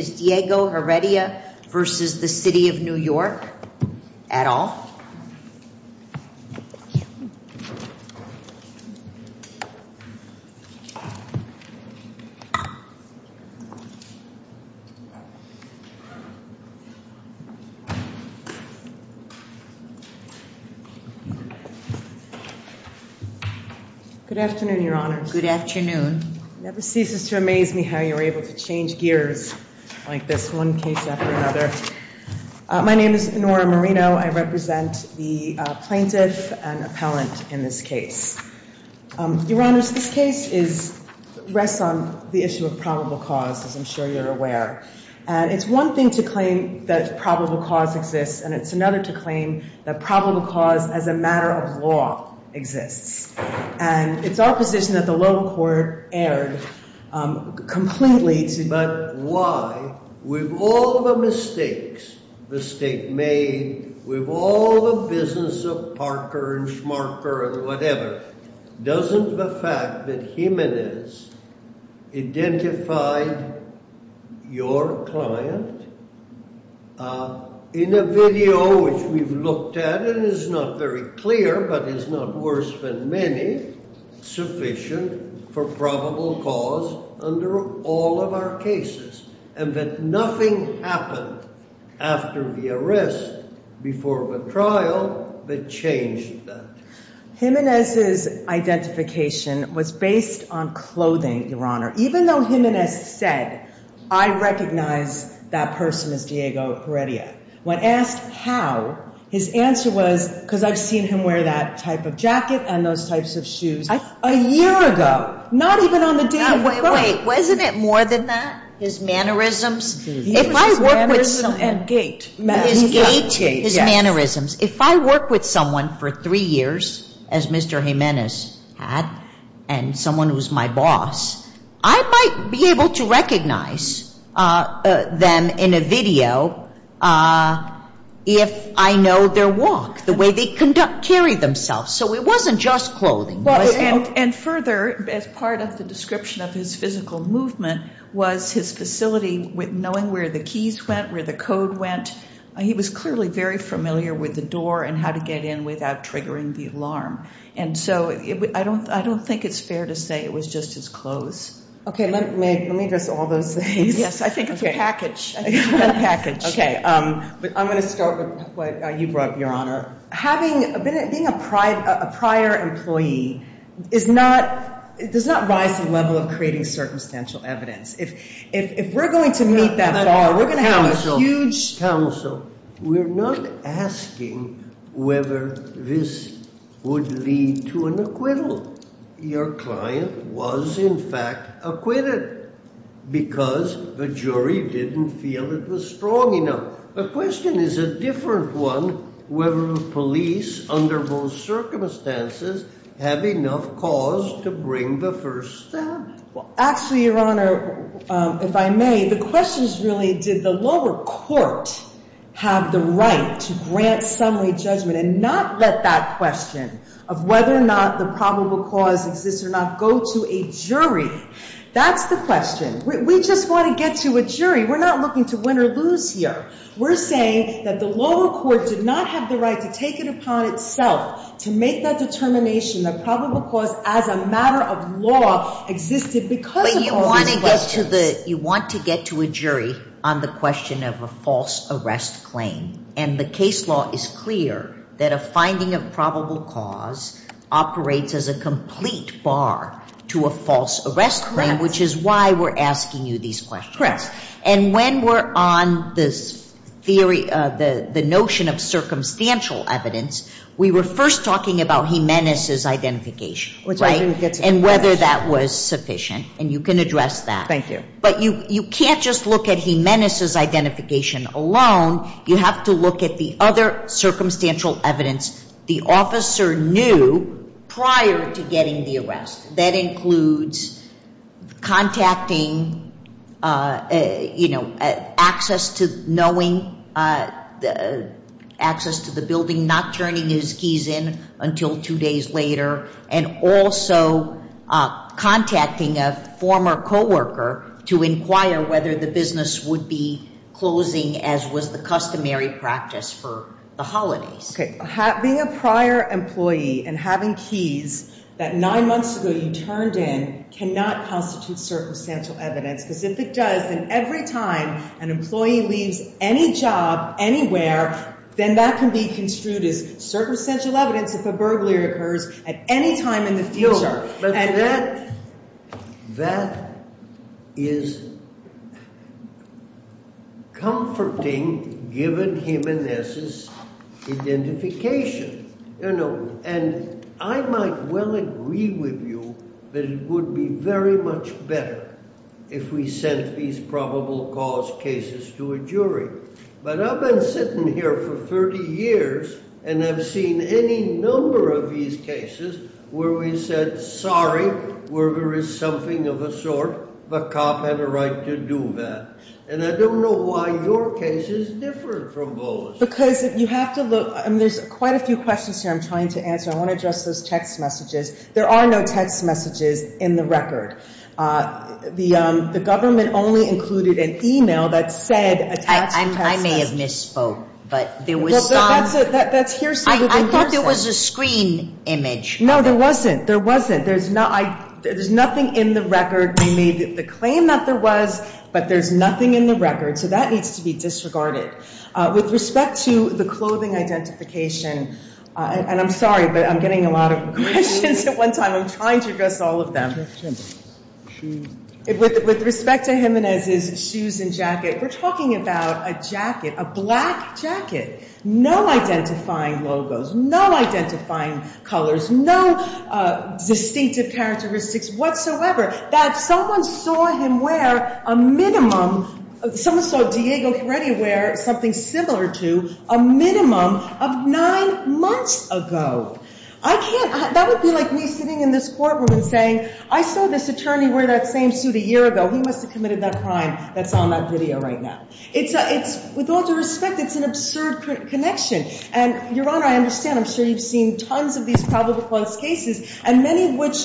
Good afternoon, Your Honor. Good afternoon. It never ceases to amaze me how you're able to change gears like this, one case after another. My name is Nora Marino. I represent the plaintiff and appellant in this case. Your Honors, this case rests on the issue of probable cause, as I'm sure you're aware. And it's one thing to claim that probable cause exists, and it's another to claim that probable cause as a matter of law exists. And it's opposition that the loan court erred completely. But why, with all the mistakes the state made, with all the business of Parker and Schmarker and whatever, doesn't the fact that Jimenez identified your client in a video, which we've looked at and is not very clear, but is not worse than many, sufficient for probable cause under all of our cases? And that nothing happened after the arrest, before the trial, that changed that? Jimenez's identification was based on clothing, Your Honor. Even though Jimenez said, I recognize that person as Diego Heredia, when asked how, his answer was, because I've seen him wear that type of jacket and those types of shoes a year ago. Not even on the day of the crime. Wasn't it more than that? His mannerisms? His mannerisms and gait. His gait, his mannerisms. If I work with someone for three years, as Mr. Jimenez had, and someone who's my boss, I might be able to recognize them in a video if I know their walk, the way they carry themselves. So it wasn't just clothing. And further, as part of the description of his physical movement, was his facility with knowing where the keys went, where the code went. He was clearly very familiar with the door and how to get in without triggering the alarm. And so I don't think it's fair to say it was just his clothes. OK, let me address all those things. Yes, I think it's a package. I think it's a package. OK, but I'm going to start with what you brought up, having been a prior employee does not rise to the level of creating circumstantial evidence. If we're going to meet that bar, we're going to have a huge. Counsel, we're not asking whether this would lead to an acquittal. Your client was, in fact, acquitted because the jury didn't feel it was strong enough. The question is a different one, whether the police, under most circumstances, have enough cause to bring the first step. Actually, Your Honor, if I may, the question is really, did the lower court have the right to grant summary judgment and not let that question of whether or not the probable cause exists or not go to a jury? That's the question. We just want to get to a jury. We're not looking to win or lose here. We're saying that the lower court did not have the right to take it upon itself to make that determination that probable cause as a matter of law existed because of all these questions. You want to get to a jury on the question of a false arrest claim. And the case law is clear that a finding of probable cause operates as a complete bar to a false arrest claim, which is why we're asking you these questions. And when we're on this theory, the notion of circumstantial evidence, we were first talking about Jimenez's identification and whether that was sufficient. And you can address that. But you can't just look at Jimenez's identification alone. You have to look at the other circumstantial evidence the officer knew prior to getting the arrest. That includes contacting access to the building, not turning his keys in until two days later, and also contacting a former co-worker to inquire whether the business would be closing as was the customary practice for the holidays. Being a prior employee and having keys that nine months ago you turned in cannot constitute circumstantial evidence. Because if it does, then every time an employee leaves any job anywhere, then that can be construed as circumstantial evidence if a burglary occurs at any time in the future. But that is comforting given Jimenez's identification. And I might well agree with you that it would be very much better if we sent these probable cause cases to a jury. But I've been sitting here for 30 years and have seen any number of these cases where we said, sorry, where there is something of a sort, the cop had a right to do that. And I don't know why your case is different from those. Because if you have to look, and there's quite a few questions here I'm trying to answer. I want to address those text messages. There are no text messages in the record. The government only included an email that said a text message. I may have misspoke, but there was some. That's hearsay within hearsay. I thought there was a screen image. No, there wasn't. There wasn't. There's nothing in the record. We made the claim that there was, but there's nothing in the record. So that needs to be disregarded. With respect to the clothing identification, and I'm sorry, but I'm getting a lot of questions at one time. I'm trying to address all of them. With respect to Jimenez's shoes and jacket, we're talking about a jacket, a black jacket. No identifying logos. No identifying colors. No distinctive characteristics whatsoever. That someone saw him wear a minimum, someone saw Diego Heredia wear something similar to a minimum of nine months ago. That would be like me sitting in this courtroom and saying, I saw this attorney wear that same suit a year ago. He must have committed that crime that's on that video right now. With all due respect, it's an absurd connection. And Your Honor, I understand. I'm sure you've seen tons of these probable cause cases, and many of which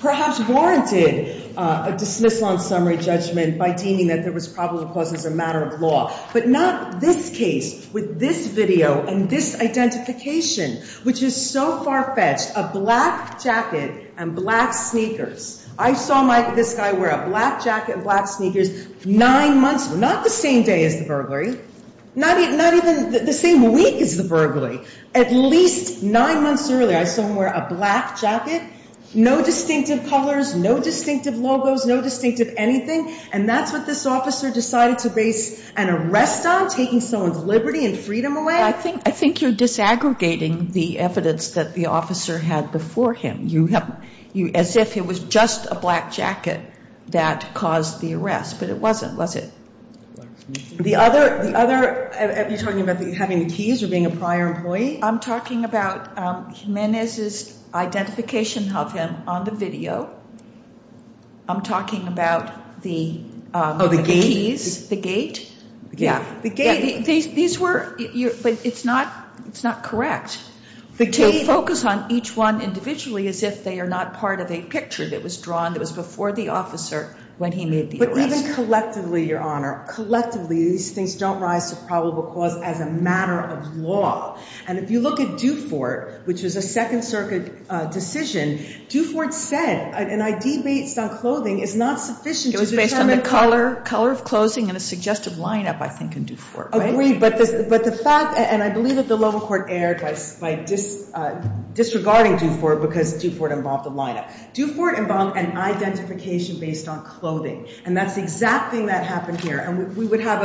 perhaps warranted a dismissal on summary judgment by deeming that there was probable cause as a matter of law. But not this case with this video and this identification, which is so far-fetched, a black jacket and black sneakers. I saw this guy wear a black jacket and black sneakers nine months, not the same day as the burglary, not even the same week as the burglary. At least nine months earlier, I saw him wear a black jacket, no distinctive colors, no distinctive logos, no distinctive anything. And that's what this officer decided to base an arrest on, taking someone's liberty and freedom away? I think you're disaggregating the evidence that the officer had before him. As if it was just a black jacket that caused the arrest. But it wasn't, was it? The other, are you talking about having the keys or being a prior employee? I'm talking about Jimenez's identification of him on the video. I'm talking about the keys, the gate. The gate. These were, but it's not, it's not correct. To focus on each one individually as if they are not part of a picture that was drawn that was before the officer when he made the arrest. But even collectively, Your Honor, collectively, these things don't rise to probable cause as a matter of law. And if you look at Dufort, which was a Second Circuit decision, Dufort said an ID based on clothing is not sufficient to determine color. Color of clothing and a suggestive lineup, I think, in Dufort. Agreed, but the fact, and I believe that the lower court erred by disregarding Dufort because Dufort involved a lineup. Dufort involved an identification based on clothing. And that's the exact thing that happened here. And we would have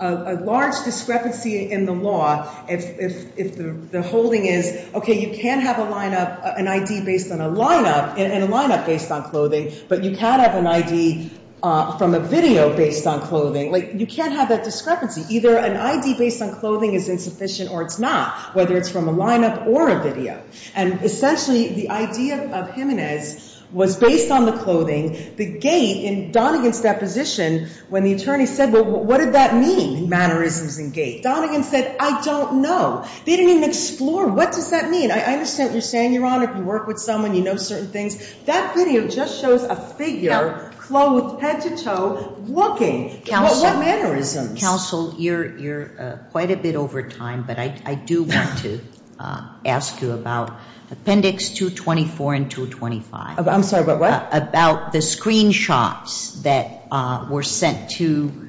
a large discrepancy in the law if the holding is, okay, you can have a lineup, an ID based on a lineup, and a lineup based on clothing, but you can't have an ID from a video based on clothing. Like, you can't have that discrepancy. Either an ID based on clothing is insufficient or it's not, whether it's from a lineup or a video. And essentially, the idea of Jimenez was based on the clothing. The gate in Donegan's deposition, when the attorney said, well, what did that mean, mannerisms and gate? Donegan said, I don't know. They didn't even explore what does that mean. I understand what you're saying, Your Honor. If you work with someone, you know certain things. That video just shows a figure, clothed, head to toe, looking. What mannerisms? Counsel, you're quite a bit over time, but I do want to ask you about Appendix 224 and 225. I'm sorry, about what? About the screenshots that were sent to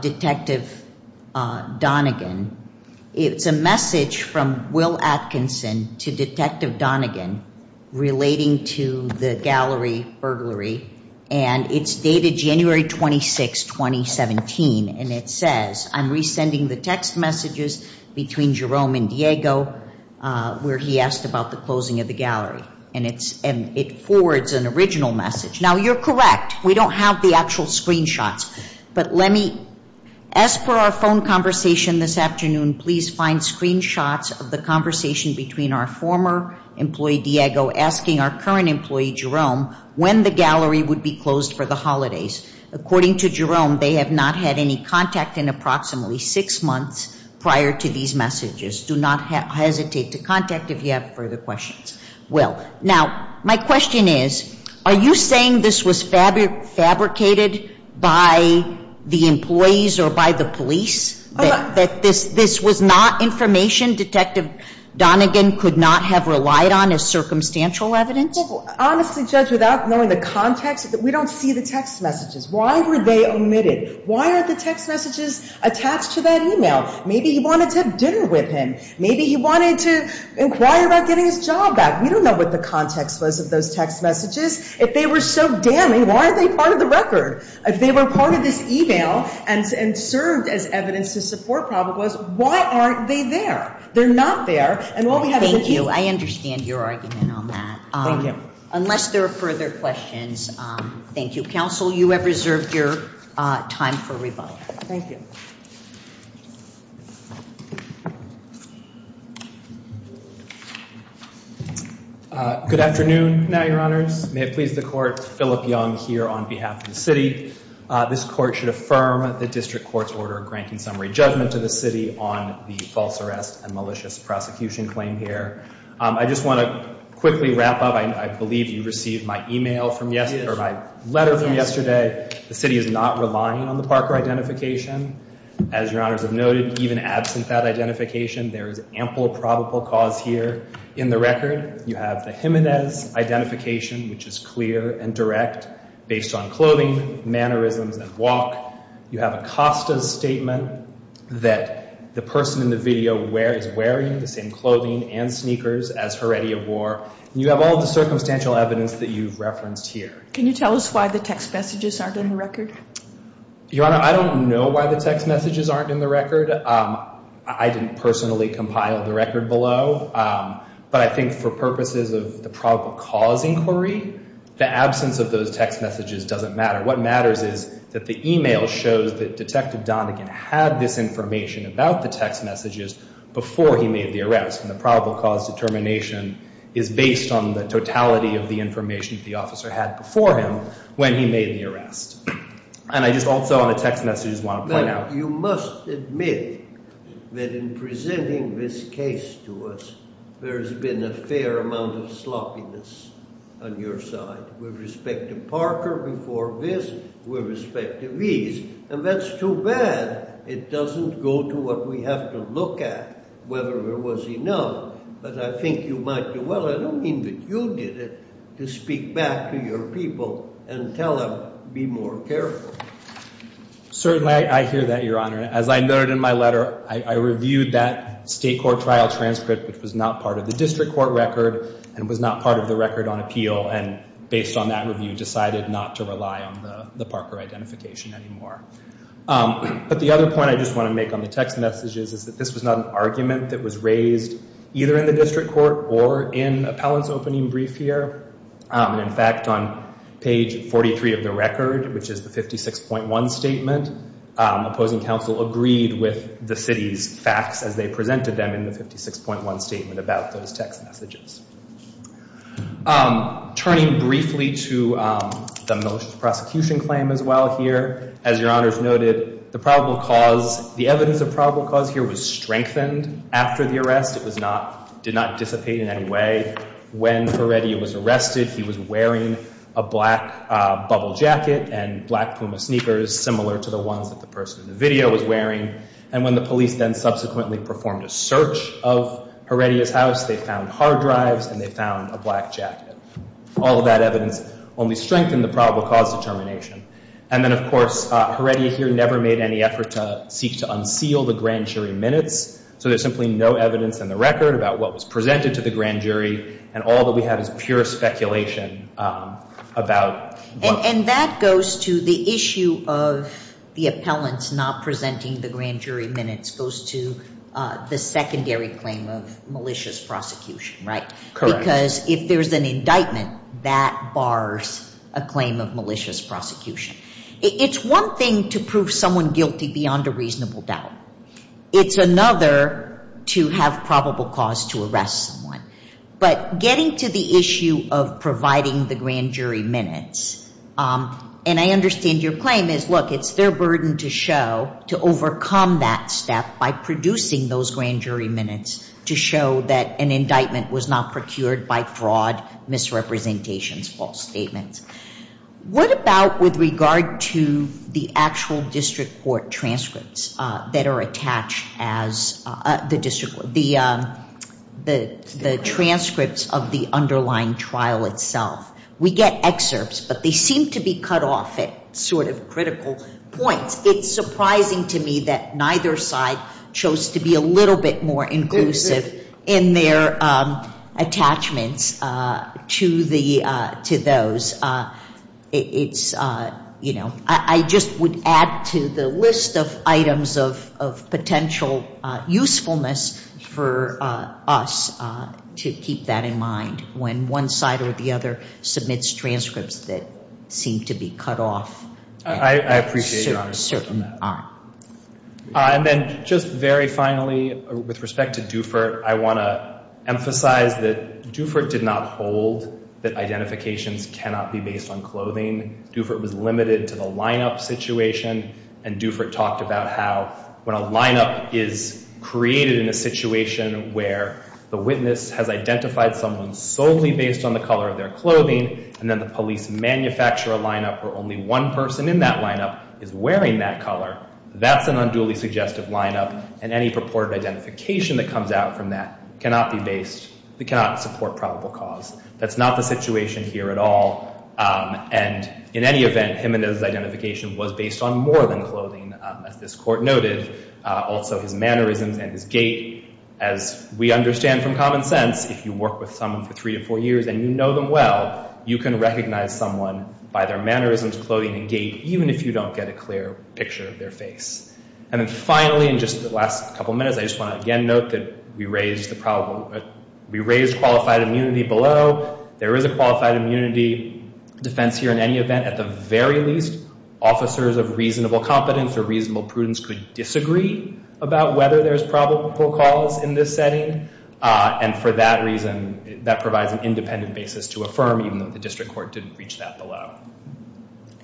Detective Donegan. It's a message from Will Atkinson to Detective Donegan relating to the gallery burglary. And it's dated January 26, 2017. And it says, I'm resending the text messages between Jerome and Diego, where he asked about the closing of the gallery. And it forwards an original message. Now, you're correct. We don't have the actual screenshots. But let me, as per our phone conversation this afternoon, please find screenshots of the conversation between our former employee Diego asking our current employee, Jerome, when the gallery would be closed for the holidays. According to Jerome, they have not had any contact in approximately six months prior to these messages. Do not hesitate to contact if you have further questions. Will, now, my question is, are you saying this was fabricated by the employees or by the police, that this was not information Detective Donegan could not have relied on as circumstantial evidence? Honestly, Judge, without knowing the context, we don't see the text messages. Why were they omitted? Why are the text messages attached to that email? Maybe he wanted to have dinner with him. Maybe he wanted to inquire about getting his job back. We don't know what the context was of those text messages. If they were so damning, why aren't they part of the record? If they were part of this email and served as evidence to support probable cause, why aren't they there? They're not there. And what we have is a key... Thank you, I understand your argument on that. Thank you. Unless there are further questions, thank you. Counsel, you have reserved your time for rebuttal. Thank you. Good afternoon, now, Your Honors. May it please the Court, Philip Young here on behalf of the city. This court should affirm the district court's order granting summary judgment to the city on the false arrest and malicious prosecution claim here. I just want to quickly wrap up. I believe you received my email from yesterday, or my letter from yesterday. The city is not relying on the Parker identification. As Your Honors have noted, even absent that identification, there is ample probable cause here in the record. You have the Jimenez identification, which is clear and direct based on clothing, mannerisms, and walk. You have Acosta's statement that the person in the video is wearing the same clothing and sneakers as Heredia wore. You have all the circumstantial evidence that you've referenced here. Can you tell us why the text messages aren't in the record? Your Honor, I don't know why the text messages aren't in the record. I didn't personally compile the record below. But I think for purposes of the probable cause inquiry, the absence of those text messages doesn't matter. What matters is that the email shows that Detective Donagan had this information about the text messages before he made the arrest. And the probable cause determination is based on the totality of the information that the officer had before him when he made the arrest. And I just also on the text messages want to point out. But you must admit that in presenting this case to us, there has been a fair amount of sloppiness on your side. With respect to Parker before this, with respect to these. And that's too bad. It doesn't go to what we have to look at, whether there was enough. But I think you might do well. I don't mean that you did it, to speak back to your people and tell them, be more careful. Certainly, I hear that, Your Honor. As I noted in my letter, I reviewed that state court trial transcript, which was not part of the district court record and was not part of the record on appeal. And based on that review, decided not to rely on the Parker identification anymore. But the other point I just want to make on the text messages is that this was not an argument that was raised either in the district court or in appellant's opening brief here. And in fact, on page 43 of the record, which is the 56.1 statement, opposing counsel agreed with the city's facts as they presented them in the 56.1 statement about those text messages. Turning briefly to the most prosecution claim as well here, as Your Honors noted, the probable cause, the evidence of probable cause here was strengthened after the arrest. It did not dissipate in any way. When Heredia was arrested, he was wearing a black bubble jacket and black Puma sneakers, similar to the ones that the person in the video was wearing. And when the police then subsequently performed a search of Heredia's house, they found hard drives and they found a black jacket. All of that evidence only strengthened the probable cause determination. And then, of course, Heredia here never made any effort to seek to unseal the grand jury minutes. So there's simply no evidence in the record about what was presented to the grand jury. And all that we have is pure speculation about what was. And that goes to the issue of the appellants not presenting the grand jury minutes goes to the secondary claim of malicious prosecution, right? Because if there is an indictment, that bars a claim of malicious prosecution. It's one thing to prove someone guilty beyond a reasonable doubt. It's another to have probable cause to arrest someone. But getting to the issue of providing the grand jury minutes, and I understand your claim is, look, it's their burden to show, to overcome that step by producing those grand jury minutes to show that an indictment was not procured by fraud, misrepresentations, false statements. What about with regard to the actual district court transcripts that are attached as the district, the transcripts of the underlying trial itself? We get excerpts, but they seem to be cut off at sort of critical points. It's surprising to me that neither side chose to be a little bit more inclusive in their attachments to those. I just would add to the list of items of potential usefulness for us to keep that in mind when one side or the other submits transcripts that seem to be cut off. I appreciate your honor. At a certain arm. And then just very finally, with respect to Dufert, I want to emphasize that Dufert did not hold that identifications cannot be based on clothing. Dufert was limited to the lineup situation, and Dufert talked about how when a lineup is created in a situation where the witness has identified someone solely based on the color of their clothing, and then the police manufacture a lineup where only one person in that lineup is wearing that color, that's an unduly suggestive lineup. And any purported identification that comes out from that cannot be based, cannot support probable cause. That's not the situation here at all. And in any event, Jimenez's identification was based on more than clothing, as this court noted. Also his mannerisms and his gait. As we understand from common sense, if you work with someone for three to four years and you know them well, you can recognize someone by their mannerisms, clothing, and gait, even if you don't get a clear picture of their face. And then finally, in just the last couple of minutes, I just want to again note that we raised the probable, we raised qualified immunity below. There is a qualified immunity defense here in any event. At the very least, officers of reasonable competence or reasonable prudence could disagree about whether there's probable cause in this setting. And for that reason, that provides an independent basis to affirm, even though the district court didn't reach that below.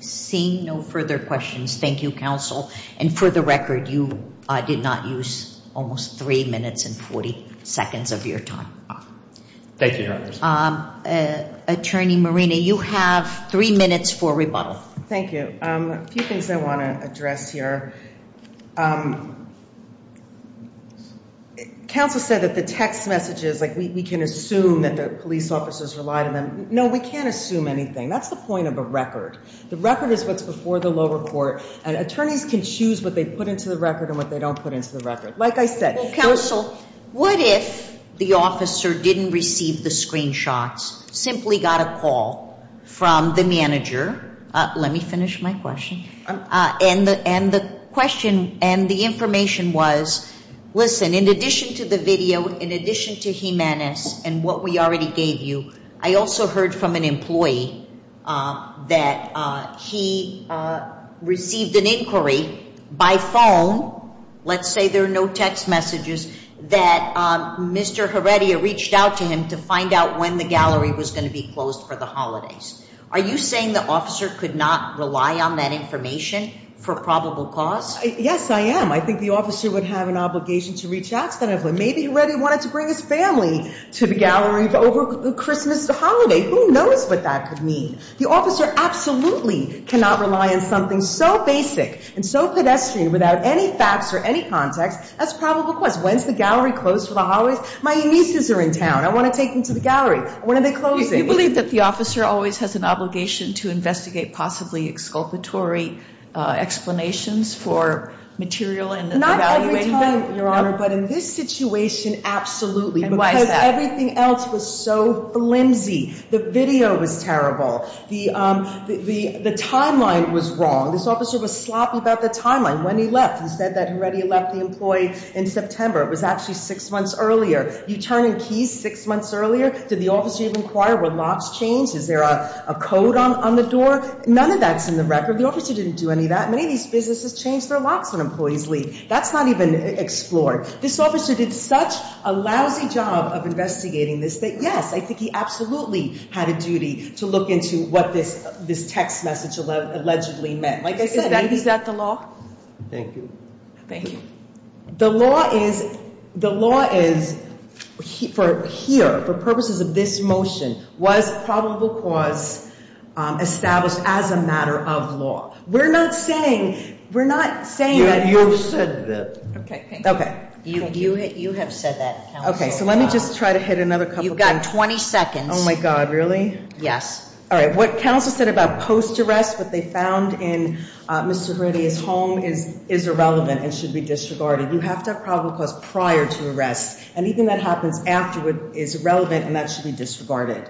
Seeing no further questions, thank you, counsel. And for the record, you did not use almost three minutes and 40 seconds of your time. Thank you, Your Honors. Attorney Marina, you have three minutes for rebuttal. Thank you. A few things I want to address here. Counsel said that the text messages, like we can assume that the police officers relied on them. No, we can't assume anything. That's the point of a record. The record is what's before the lower court. And attorneys can choose what they put into the record and what they don't put into the record. Like I said, counsel, what if the officer didn't receive the screenshots, simply got a call from the manager? Let me finish my question. And the question and the information was, listen, in addition to the video, in addition to Jimenez and what we already gave you, I also heard from an employee that he received an inquiry by phone, let's say there are no text messages, that Mr. Heredia reached out to him to find out when the gallery was going to be closed for the holidays. Are you saying the officer could not rely on that information for probable cause? Yes, I am. I think the officer would have an obligation to reach out to that employee. Maybe Heredia wanted to bring his family to the gallery over Christmas holiday. Who knows what that could mean? The officer absolutely cannot rely on something so basic and so pedestrian without any facts or any context as probable cause. When's the gallery closed for the holidays? My nieces are in town. I want to take them to the gallery. When are they closing? Do you believe that the officer always has an obligation to investigate possibly exculpatory explanations for material and evaluating them? Not every time, Your Honor. But in this situation, absolutely. And why is that? Everything else was so flimsy. The video was terrible. The timeline was wrong. This officer was sloppy about the timeline. When he left, he said that Heredia left the employee in September. It was actually six months earlier. You turn in keys six months earlier? Did the officer even inquire were locks changed? Is there a code on the door? None of that's in the record. The officer didn't do any of that. Many of these businesses change their locks when employees leave. That's not even explored. This officer did such a lousy job of investigating this that, yes, I think he absolutely had a duty to look into what this text message allegedly meant. Like I said, maybe. Is that the law? Thank you. Thank you. The law is for purposes of this motion was probable cause established as a matter of law. We're not saying that you should. OK. You have said that, counsel. OK, so let me just try to hit another couple of things. You've got 20 seconds. Oh my god, really? Yes. All right, what counsel said about post-arrest, what they found in Mr. Heredia's home is irrelevant and should be disregarded. You have to have probable cause prior to arrest. And even that happens afterward is irrelevant and that should be disregarded.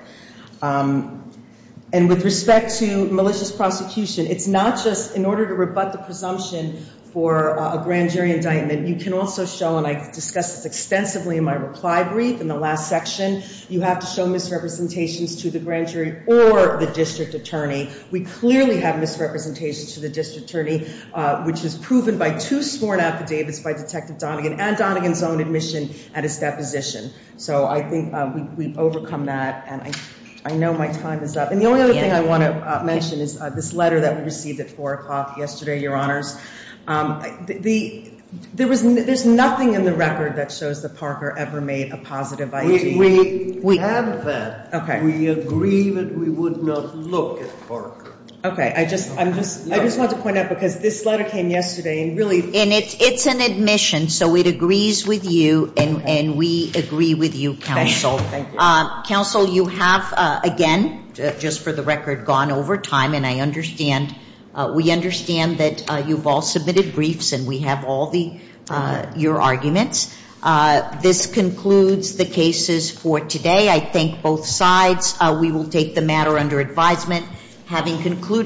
And with respect to malicious prosecution, it's not just in order to rebut the presumption for a grand jury indictment. You can also show, and I discussed this extensively in my reply brief in the last section, you have to show misrepresentations to the grand jury or the district attorney. We clearly have misrepresentation to the district attorney, which is proven by two sworn affidavits by Detective Donagan and Donagan's own admission at his deposition. So I think we've overcome that. And I know my time is up. And the only other thing I want to mention is this letter that we received at 4 o'clock yesterday, Your Honors. There's nothing in the record that shows that Parker ever made a positive ID. We have that. We agree that we would not look at Parker. OK, I just want to point out, because this letter came yesterday and really. And it's an admission. So it agrees with you and we agree with you, Counsel. Counsel, you have, again, just for the record, gone over time. And we understand that you've all submitted briefs and we have all your arguments. This concludes the cases for today. I thank both sides. We will take the matter under advisement. Having concluded.